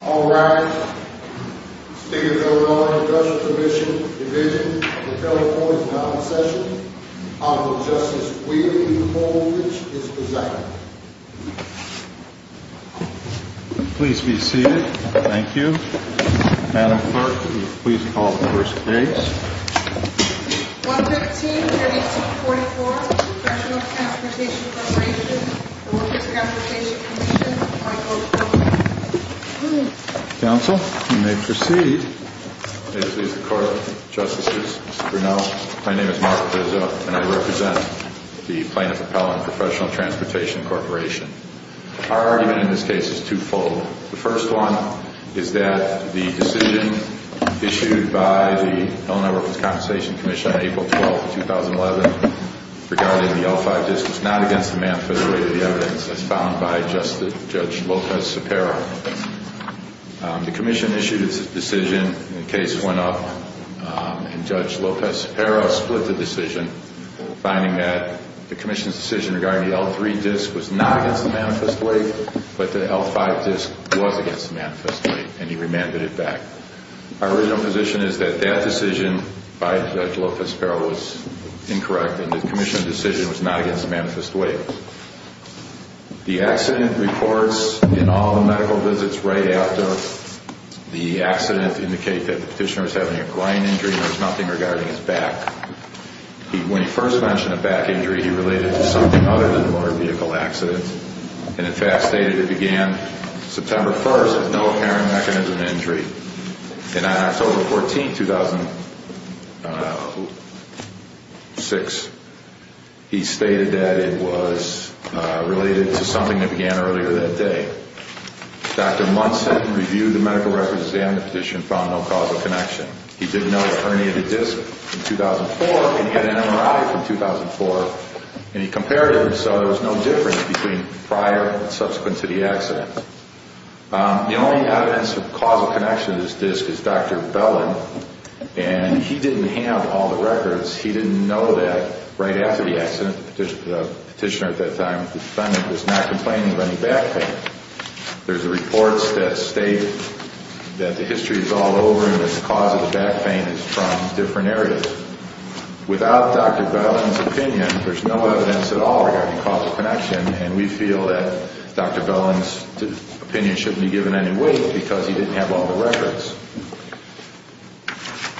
All rise. Standing in the order of the Judicial Commission, Division of the Telephone is now in session. Honorable Justice Weaver-Mulvich is present. Please be seated. Thank you. Madam Clerk, will you please call the first case? 115-1844, Federal Transportation Corporation, Workers' Transportation Commission. Counsel, you may proceed. May it please the Court, Justices, Mr. Grinnell. My name is Mark Grizzo and I represent the plaintiff appellant, Professional Transportation Corporation. Our argument in this case is two-fold. The first one is that the decision issued by the Illinois Workers' Compensation Commission on April 12, 2011, regarding the L-5 disc was not against the manifesto weight of the evidence as found by Justice Judge Lopez-Sapera. The Commission issued its decision, the case went up, and Judge Lopez-Sapera split the decision, finding that the Commission's decision regarding the L-3 disc was not against the manifesto weight, but the L-5 disc was against the manifesto weight, and he remanded it back. Our original position is that that decision by Judge Lopez-Sapera was incorrect and the Commission's decision was not against the manifesto weight. The accident reports in all the medical visits right after the accident indicate that the petitioner was having a grind injury and there was nothing regarding his back. When he first mentioned a back injury, he related it to something other than a motor vehicle accident, and in fact stated it began September 1st as no apparent mechanism of injury. And on October 14, 2006, he stated that it was related to something that began earlier that day. Dr. Munson reviewed the medical records of the amnesty petition and found no causal connection. He didn't know the herniated disc from 2004, and he had anemorrhagic from 2004, and he compared them and saw there was no difference between prior and subsequent to the accident. The only evidence of causal connection to this disc is Dr. Bellin, and he didn't have all the records. He didn't know that right after the accident, the petitioner at that time, the defendant was not complaining of any back pain. There's reports that state that the history is all over him and the cause of the back pain is from different areas. Without Dr. Bellin's opinion, there's no evidence at all regarding causal connection, and we feel that Dr. Bellin's opinion shouldn't be given any weight because he didn't have all the records.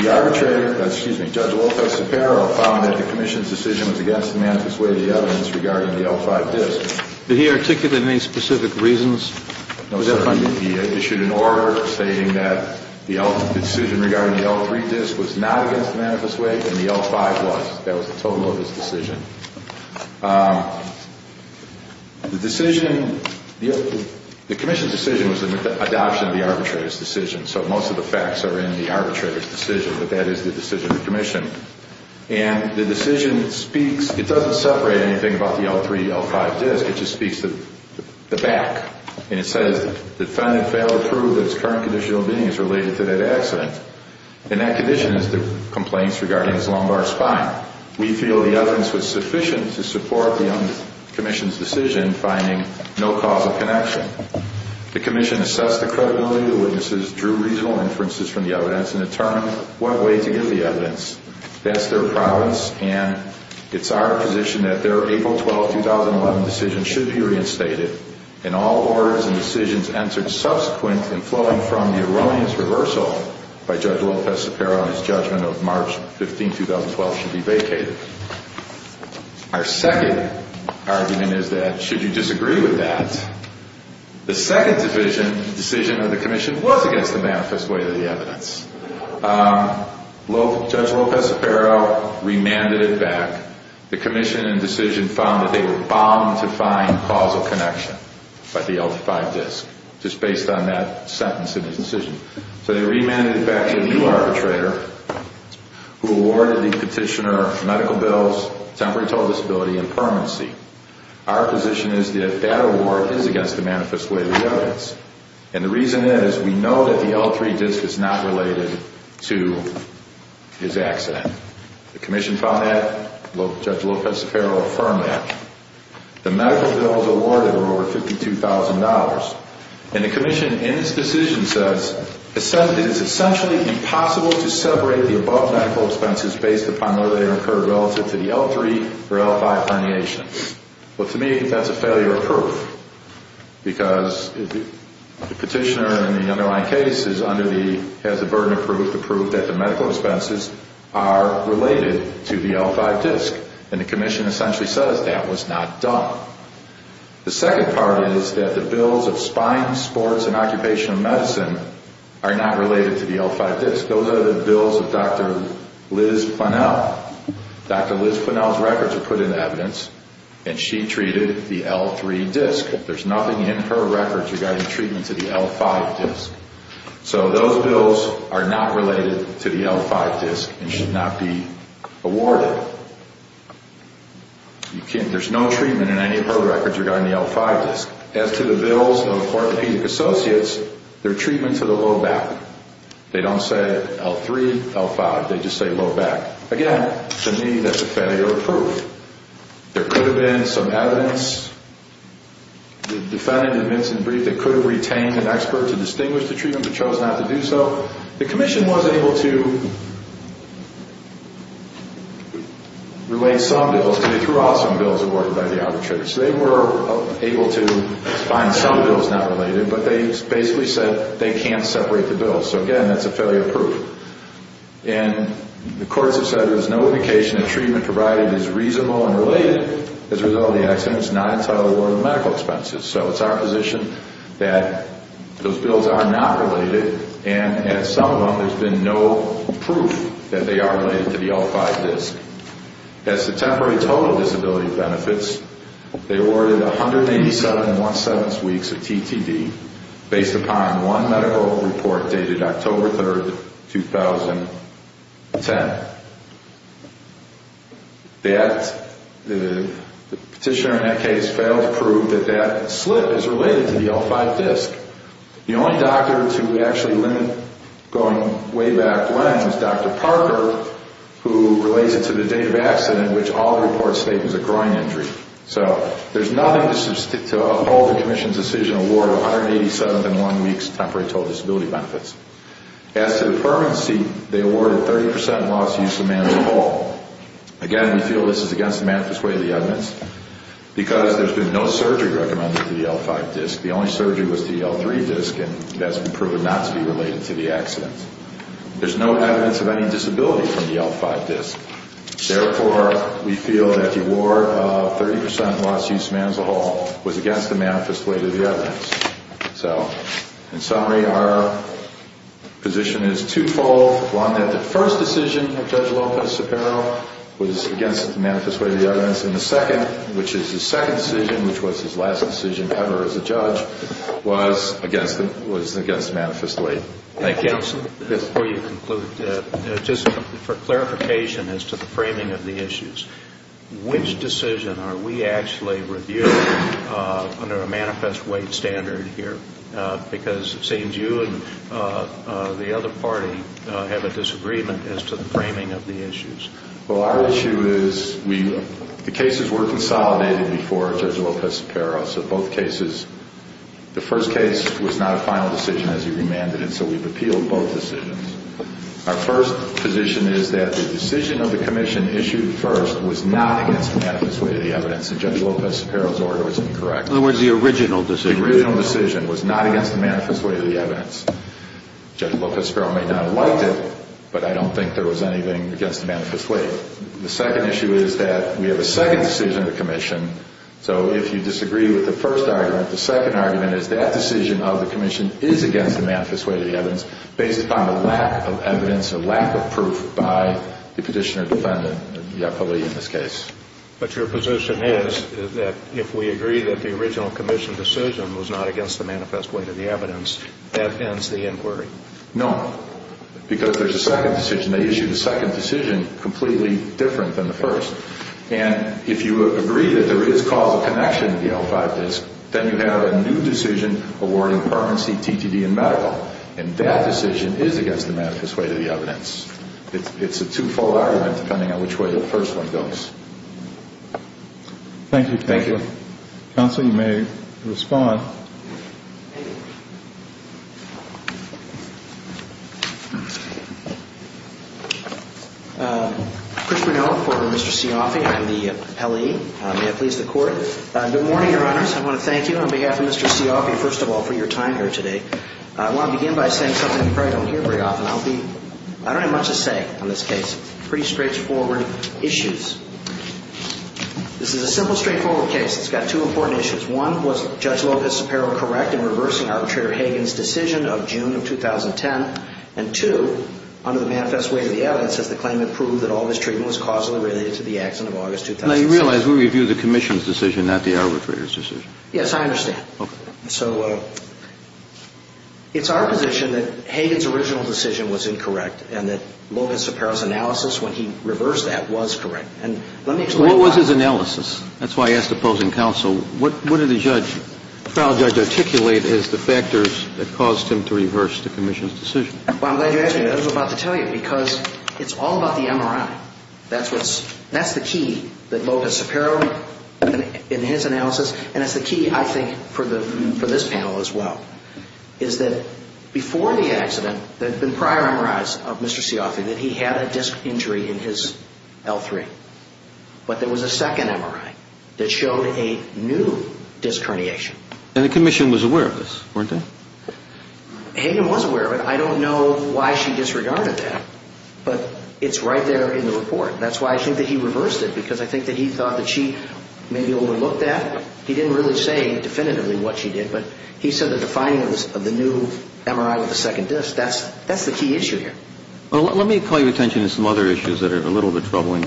The arbitrator, excuse me, Judge Lopez-Sapero, found that the commission's decision was against the manifest way of the evidence regarding the L5 disc. Did he articulate any specific reasons? He issued an order stating that the decision regarding the L3 disc was not against the manifest way and the L5 was. That was the total of his decision. The decision, the commission's decision was an adoption of the arbitrator's decision, so most of the facts are in the arbitrator's decision, but that is the decision of the commission. And the decision speaks, it doesn't separate anything about the L3, L5 disc, it just speaks to the back. And it says the defendant failed to prove that his current condition of being is related to that accident. And that condition is the complaints regarding his lumbar spine. We feel the evidence was sufficient to support the commission's decision finding no causal connection. The commission assessed the credibility of the witnesses, drew reasonable inferences from the evidence, and determined what way to give the evidence. That's their province and it's our position that their April 12, 2011 decision should be reinstated and all orders and decisions entered subsequent and flowing from the erroneous reversal by Judge Lopez-Sapero on his judgment of March 15, 2012 should be vacated. Our second argument is that should you disagree with that, the second decision of the commission was against the manifest way of the evidence. Judge Lopez-Sapero remanded it back. The commission in decision found that they were bound to find causal connection by the L5 disc, just based on that sentence in his decision. So they remanded it back to a new arbitrator who awarded the petitioner medical bills, temporary total disability, and permanency. Our position is that that award is against the manifest way of the evidence. And the reason is we know that the L3 disc is not related to his accident. The commission found that. Judge Lopez-Sapero affirmed that. The medical bills awarded were over $52,000. And the commission in its decision says it's essentially impossible to separate the above medical expenses based upon whether they occurred relative to the L3 or L5 herniations. Well, to me, that's a failure of proof. Because the petitioner in the underlying case has the burden of proof, the proof that the medical expenses are related to the L5 disc. And the commission essentially says that was not done. The second part is that the bills of spines, sports, and occupational medicine are not related to the L5 disc. Those are the bills of Dr. Liz Funnell. Dr. Liz Funnell's records are put in evidence, and she treated the L3 disc. There's nothing in her records regarding treatment to the L5 disc. So those bills are not related to the L5 disc and should not be awarded. There's no treatment in any of her records regarding the L5 disc. As to the bills of orthopedic associates, they're treatment to the low back. They don't say L3, L5. They just say low back. Again, to me, that's a failure of proof. There could have been some evidence defended in Vincent's brief that could have retained an expert to distinguish the treatment but chose not to do so. The commission was able to relate some bills. They threw out some bills awarded by the arbitrators. They were able to find some bills not related, but they basically said they can't separate the bills. So, again, that's a failure of proof. And the courts have said there's no indication that treatment provided is reasonable and related. As a result of the accident, it's not entitled to medical expenses. So it's our position that those bills are not related, and at some of them there's been no proof that they are related to the L5 disc. As to temporary total disability benefits, they awarded 187 and one-seventh weeks of TTD based upon one medical report dated October 3, 2010. The petitioner in that case failed to prove that that slip is related to the L5 disc. The only doctor to actually limit going way back when was Dr. Parker, who relates it to the date of accident in which all the reports state it was a groin injury. So there's nothing to uphold the commission's decision to award 187 and one weeks of temporary total disability benefits. As to the permanency, they awarded 30 percent loss to use of management at all. Again, we feel this is against the manifest way of the evidence because there's been no surgery recommended to the L5 disc. The only surgery was to the L3 disc, and that's been proven not to be related to the accident. There's no evidence of any disability from the L5 disc. Therefore, we feel that the award of 30 percent loss to use of management at all was against the manifest way of the evidence. So, in summary, our position is twofold. One, that the first decision of Judge Lopez-Sapero was against the manifest way of the evidence, and the second, which is his second decision, which was his last decision ever as a judge, was against the manifest way. Counsel, before you conclude, just for clarification as to the framing of the issues, which decision are we actually reviewing under a manifest way standard here? Because it seems you and the other party have a disagreement as to the framing of the issues. Well, our issue is the cases were consolidated before Judge Lopez-Sapero, so both cases, the first case was not a final decision as he remanded it, so we've appealed both decisions. Our first position is that the decision of the commission issued first was not against the manifest way of the evidence, and Judge Lopez-Sapero's order was incorrect. In other words, the original decision. The original decision was not against the manifest way of the evidence. Judge Lopez-Sapero may not have liked it, but I don't think there was anything against the manifest way. So if you disagree with the first argument, the second argument is that decision of the commission is against the manifest way of the evidence based upon a lack of evidence, a lack of proof by the petitioner defendant, the appellee in this case. But your position is that if we agree that the original commission decision was not against the manifest way of the evidence, that ends the inquiry. No, because there's a second decision. They issued a second decision completely different than the first. And if you agree that there is causal connection to the L5 disk, then you have a new decision awarding permanency, TTD, and medical. And that decision is against the manifest way of the evidence. It's a twofold argument depending on which way the first one goes. Thank you, counsel. Counsel, you may respond. Christopher Noel for Mr. Cioffi. I'm the L.E. May I please the court? Good morning, Your Honors. I want to thank you on behalf of Mr. Cioffi, first of all, for your time here today. I want to begin by saying something you probably don't hear very often. I don't have much to say on this case. Pretty straightforward issues. This is a simple, straightforward case. One was Judge Lopez-Sapero's argument that the L.A. in reversing arbitrator Hagan's decision of June of 2010. And two, under the manifest way of the evidence, as the claimant proved that all mistreatment was causally related to the accident of August 2006. Now, you realize we review the commission's decision, not the arbitrator's decision. Yes, I understand. Okay. So it's our position that Hagan's original decision was incorrect and that Lopez-Sapero's analysis when he reversed that was correct. And let me explain why. What was his analysis? That's why I asked the opposing counsel. What did the trial judge articulate as the factors that caused him to reverse the commission's decision? Well, I'm glad you asked me that. I was about to tell you because it's all about the MRI. That's the key that Lopez-Sapero in his analysis, and it's the key I think for this panel as well, is that before the accident there had been prior MRIs of Mr. Cioffi that he had a disc injury in his L3. But there was a second MRI that showed a new disc herniation. And the commission was aware of this, weren't they? Hagan was aware of it. I don't know why she disregarded that, but it's right there in the report. That's why I think that he reversed it because I think that he thought that she maybe overlooked that. He didn't really say definitively what she did, but he said the defining of the new MRI with the second disc, that's the key issue here. Let me call your attention to some other issues that are a little bit troubling.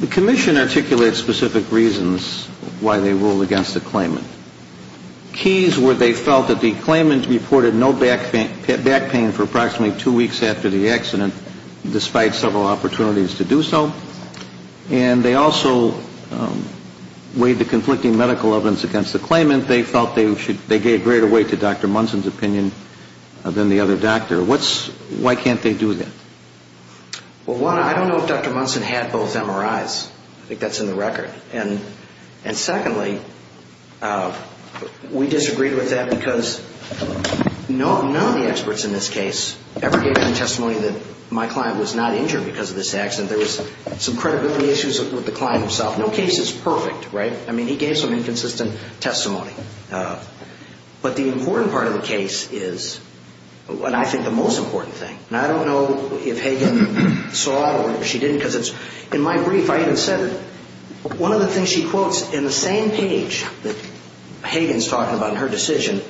The commission articulated specific reasons why they ruled against the claimant. Keys were they felt that the claimant reported no back pain for approximately two weeks after the accident, despite several opportunities to do so. And they also weighed the conflicting medical evidence against the claimant. They felt they gave greater weight to Dr. Munson's opinion than the other doctor. Why can't they do that? Well, one, I don't know if Dr. Munson had both MRIs. I think that's in the record. And secondly, we disagreed with that because none of the experts in this case ever gave any testimony that my client was not injured because of this accident. There was some credibility issues with the client himself. No case is perfect, right? I mean, he gave some inconsistent testimony. But the important part of the case is, and I think the most important thing, and I don't know if Hagen saw it or if she didn't because in my brief I even said it, one of the things she quotes in the same page that Hagen's talking about in her decision,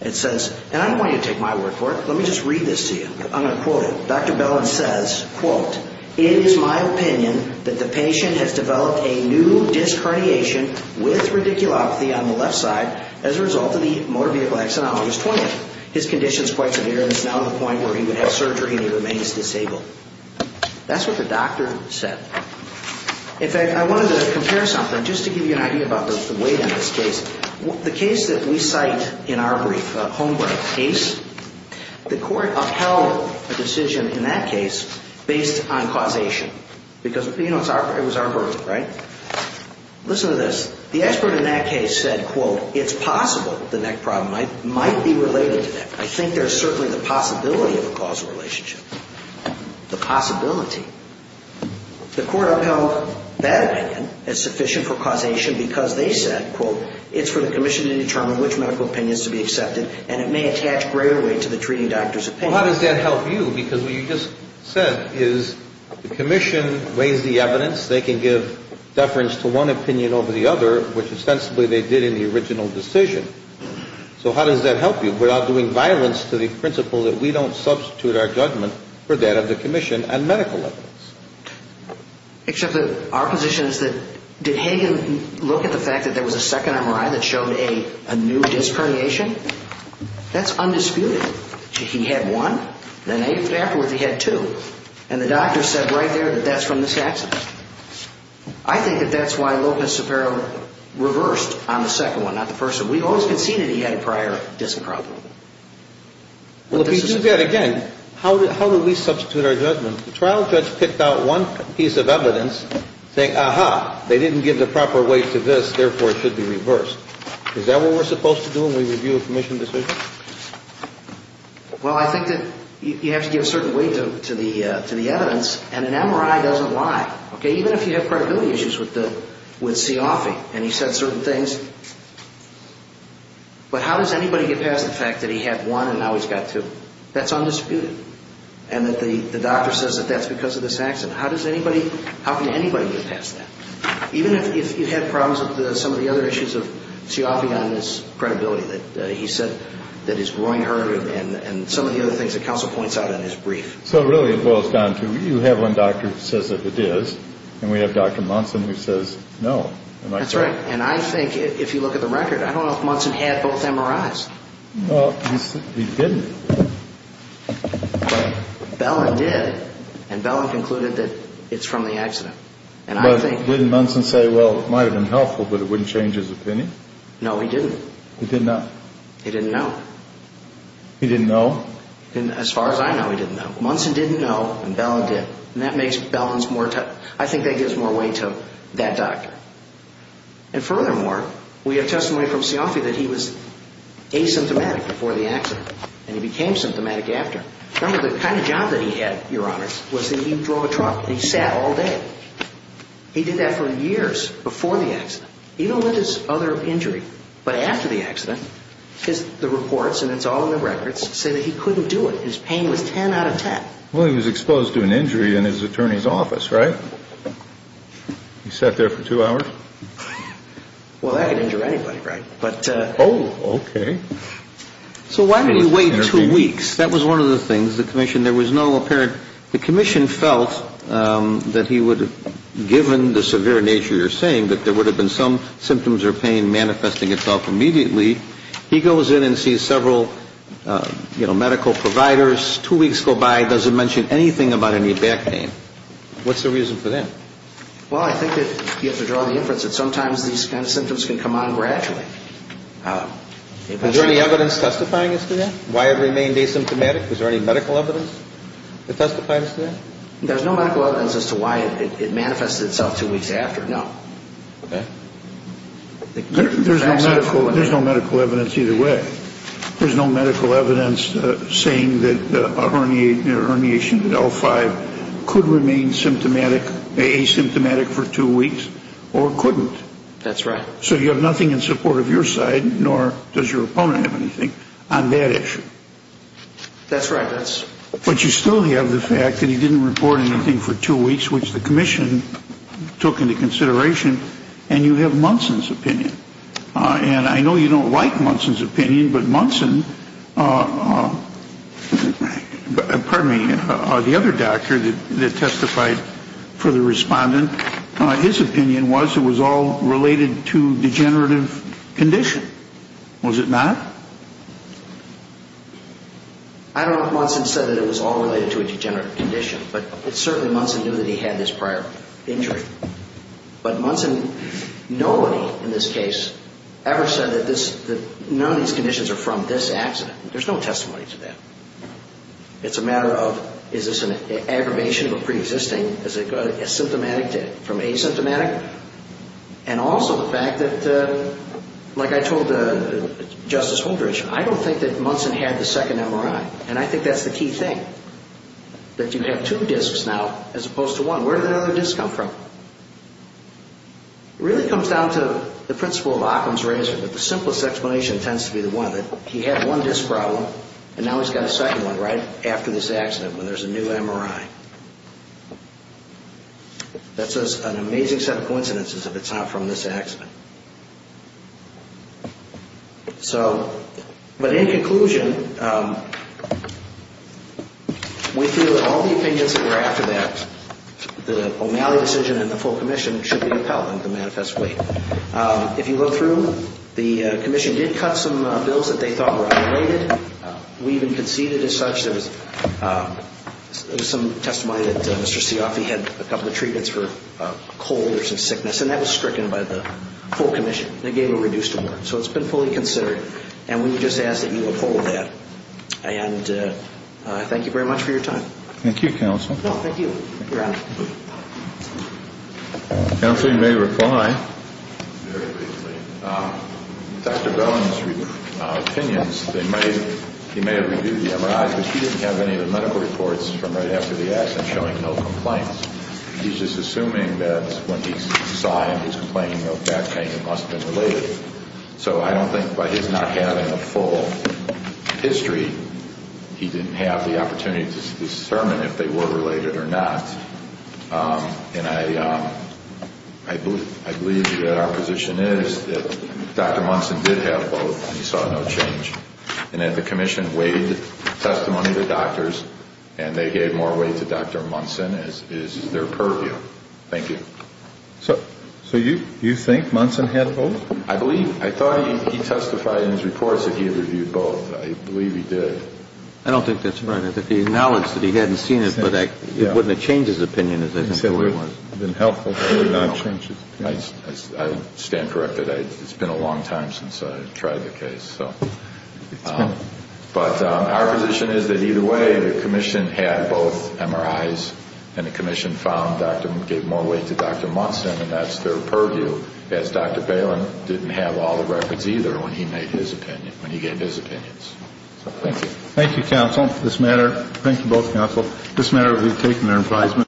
it says, and I don't want you to take my word for it. Let me just read this to you. I'm going to quote it. Dr. Bellin says, quote, It is my opinion that the patient has developed a new disc herniation with radiculopathy on the left side as a result of the motor vehicle accident on August 20th. His condition is quite severe and is now at the point where he would have surgery and he remains disabled. That's what the doctor said. In fact, I wanted to compare something just to give you an idea about the weight of this case. The case that we cite in our brief, a home-break case, the court upheld a decision in that case based on causation. Because, you know, it was our verdict, right? Listen to this. The expert in that case said, quote, It's possible the neck problem might be related to that. I think there's certainly the possibility of a causal relationship. The possibility. The court upheld that opinion as sufficient for causation because they said, quote, It's for the commission to determine which medical opinions to be accepted and it may attach greater weight to the treating doctor's opinion. Well, how does that help you? Because what you just said is the commission weighs the evidence. They can give deference to one opinion over the other, which ostensibly they did in the original decision. So how does that help you? We're not doing violence to the principle that we don't substitute our judgment for that of the commission on medical evidence. Except that our position is that did Hagen look at the fact that there was a second MRI that showed a new disc herniation? That's undisputed. He had one. The next day afterwards he had two. And the doctor said right there that that's from this accident. I think that that's why Lopez-Sopero reversed on the second one, not the first one. We've always conceded he had a prior disc problem. Well, if you do that again, how do we substitute our judgment? The trial judge picked out one piece of evidence, saying, Is that what we're supposed to do when we review a commission decision? Well, I think that you have to give a certain weight to the evidence, and an MRI doesn't lie, okay? Even if you have credibility issues with Seeoffi and he said certain things. But how does anybody get past the fact that he had one and now he's got two? That's undisputed. And that the doctor says that that's because of this accident. How can anybody get past that? Even if you had problems with some of the other issues of Seeoffi on his credibility, that he said that his groin hurt and some of the other things that counsel points out in his brief. So really it boils down to you have one doctor who says that it is, and we have Dr. Munson who says no. That's right. And I think if you look at the record, I don't know if Munson had both MRIs. Well, he didn't. Bellin did, and Bellin concluded that it's from the accident. But didn't Munson say, well, it might have been helpful, but it wouldn't change his opinion? No, he didn't. He did not? He didn't know. He didn't know? As far as I know, he didn't know. Munson didn't know, and Bellin did. And that makes Bellin's more tough. I think that gives more weight to that doctor. And furthermore, we have testimony from Seeoffi that he was asymptomatic before the accident, and he became symptomatic after. Remember, the kind of job that he had, Your Honors, was that he drove a truck, and he sat all day. He did that for years before the accident, even with his other injury. But after the accident, the reports, and it's all in the records, say that he couldn't do it. His pain was 10 out of 10. Well, he was exposed to an injury in his attorney's office, right? He sat there for two hours? Well, that could injure anybody, right? Oh, okay. So why did he wait two weeks? That was one of the things. The commission felt that he would have, given the severe nature you're saying, that there would have been some symptoms or pain manifesting itself immediately. He goes in and sees several medical providers. Two weeks go by, doesn't mention anything about any back pain. What's the reason for that? Well, I think that you have to draw the inference that sometimes these kind of symptoms can come on gradually. Is there any evidence testifying as to that? Why it remained asymptomatic? Was there any medical evidence that testifies to that? There's no medical evidence as to why it manifested itself two weeks after, no. Okay. There's no medical evidence either way. There's no medical evidence saying that a herniation in L5 could remain symptomatic, asymptomatic for two weeks, or couldn't. That's right. So you have nothing in support of your side, nor does your opponent have anything on that issue. That's right. But you still have the fact that he didn't report anything for two weeks, which the commission took into consideration, and you have Munson's opinion. And I know you don't like Munson's opinion, but Munson, pardon me, the other doctor that testified for the respondent, his opinion was it was all related to degenerative condition. Was it not? I don't know if Munson said that it was all related to a degenerative condition, but certainly Munson knew that he had this prior injury. But Munson, nobody in this case ever said that none of these conditions are from this accident. There's no testimony to that. It's a matter of is this an aggravation of a preexisting? Is it symptomatic from asymptomatic? And also the fact that, like I told Justice Holdridge, I don't think that Munson had the second MRI, and I think that's the key thing, that you have two discs now as opposed to one. Where did the other disc come from? It really comes down to the principle of Occam's razor, but the simplest explanation tends to be the one that he had one disc problem and now he's got a second one right after this accident when there's a new MRI. That's an amazing set of coincidences if it's not from this accident. So, but in conclusion, we feel that all the opinions that were after that, the O'Malley decision and the full commission should be upheld in the manifest way. If you look through, the commission did cut some bills that they thought were underrated. We even conceded as such there was some testimony that Mr. Sioffi had a couple of treatments for a cold or some sickness, and that was stricken by the full commission. They gave a reduced award. So it's been fully considered, and we would just ask that you uphold that. And thank you very much for your time. Thank you, counsel. No, thank you. Thank you, Ron. Counsel, you may reply. Very briefly. Dr. Bowen's opinions, he may have reviewed the MRI, but he didn't have any of the medical reports from right after the accident showing no complaints. He's just assuming that when he saw him, he was complaining of back pain. It must have been related. So I don't think by his not having a full history, he didn't have the opportunity to determine if they were related or not. And I believe that our position is that Dr. Munson did have both, and he saw no change. And that the commission waived testimony to doctors, and they gave more weight to Dr. Munson is their purview. Thank you. So you think Munson had both? I believe. I thought he testified in his reports that he had reviewed both. I believe he did. I don't think that's right. I think he acknowledged that he hadn't seen it, but it wouldn't have changed his opinion as I think it was. It would have been helpful, but it would not have changed his opinion. I stand corrected. It's been a long time since I tried the case. But our position is that either way, the commission had both MRIs, and the commission found Dr. Munson, gave more weight to Dr. Munson, and that's their purview. So, as Dr. Palin didn't have all the records either when he made his opinion, when he gave his opinions. Thank you. Thank you, counsel, for this matter. Thank you both, counsel. This matter will be taken to an advisement.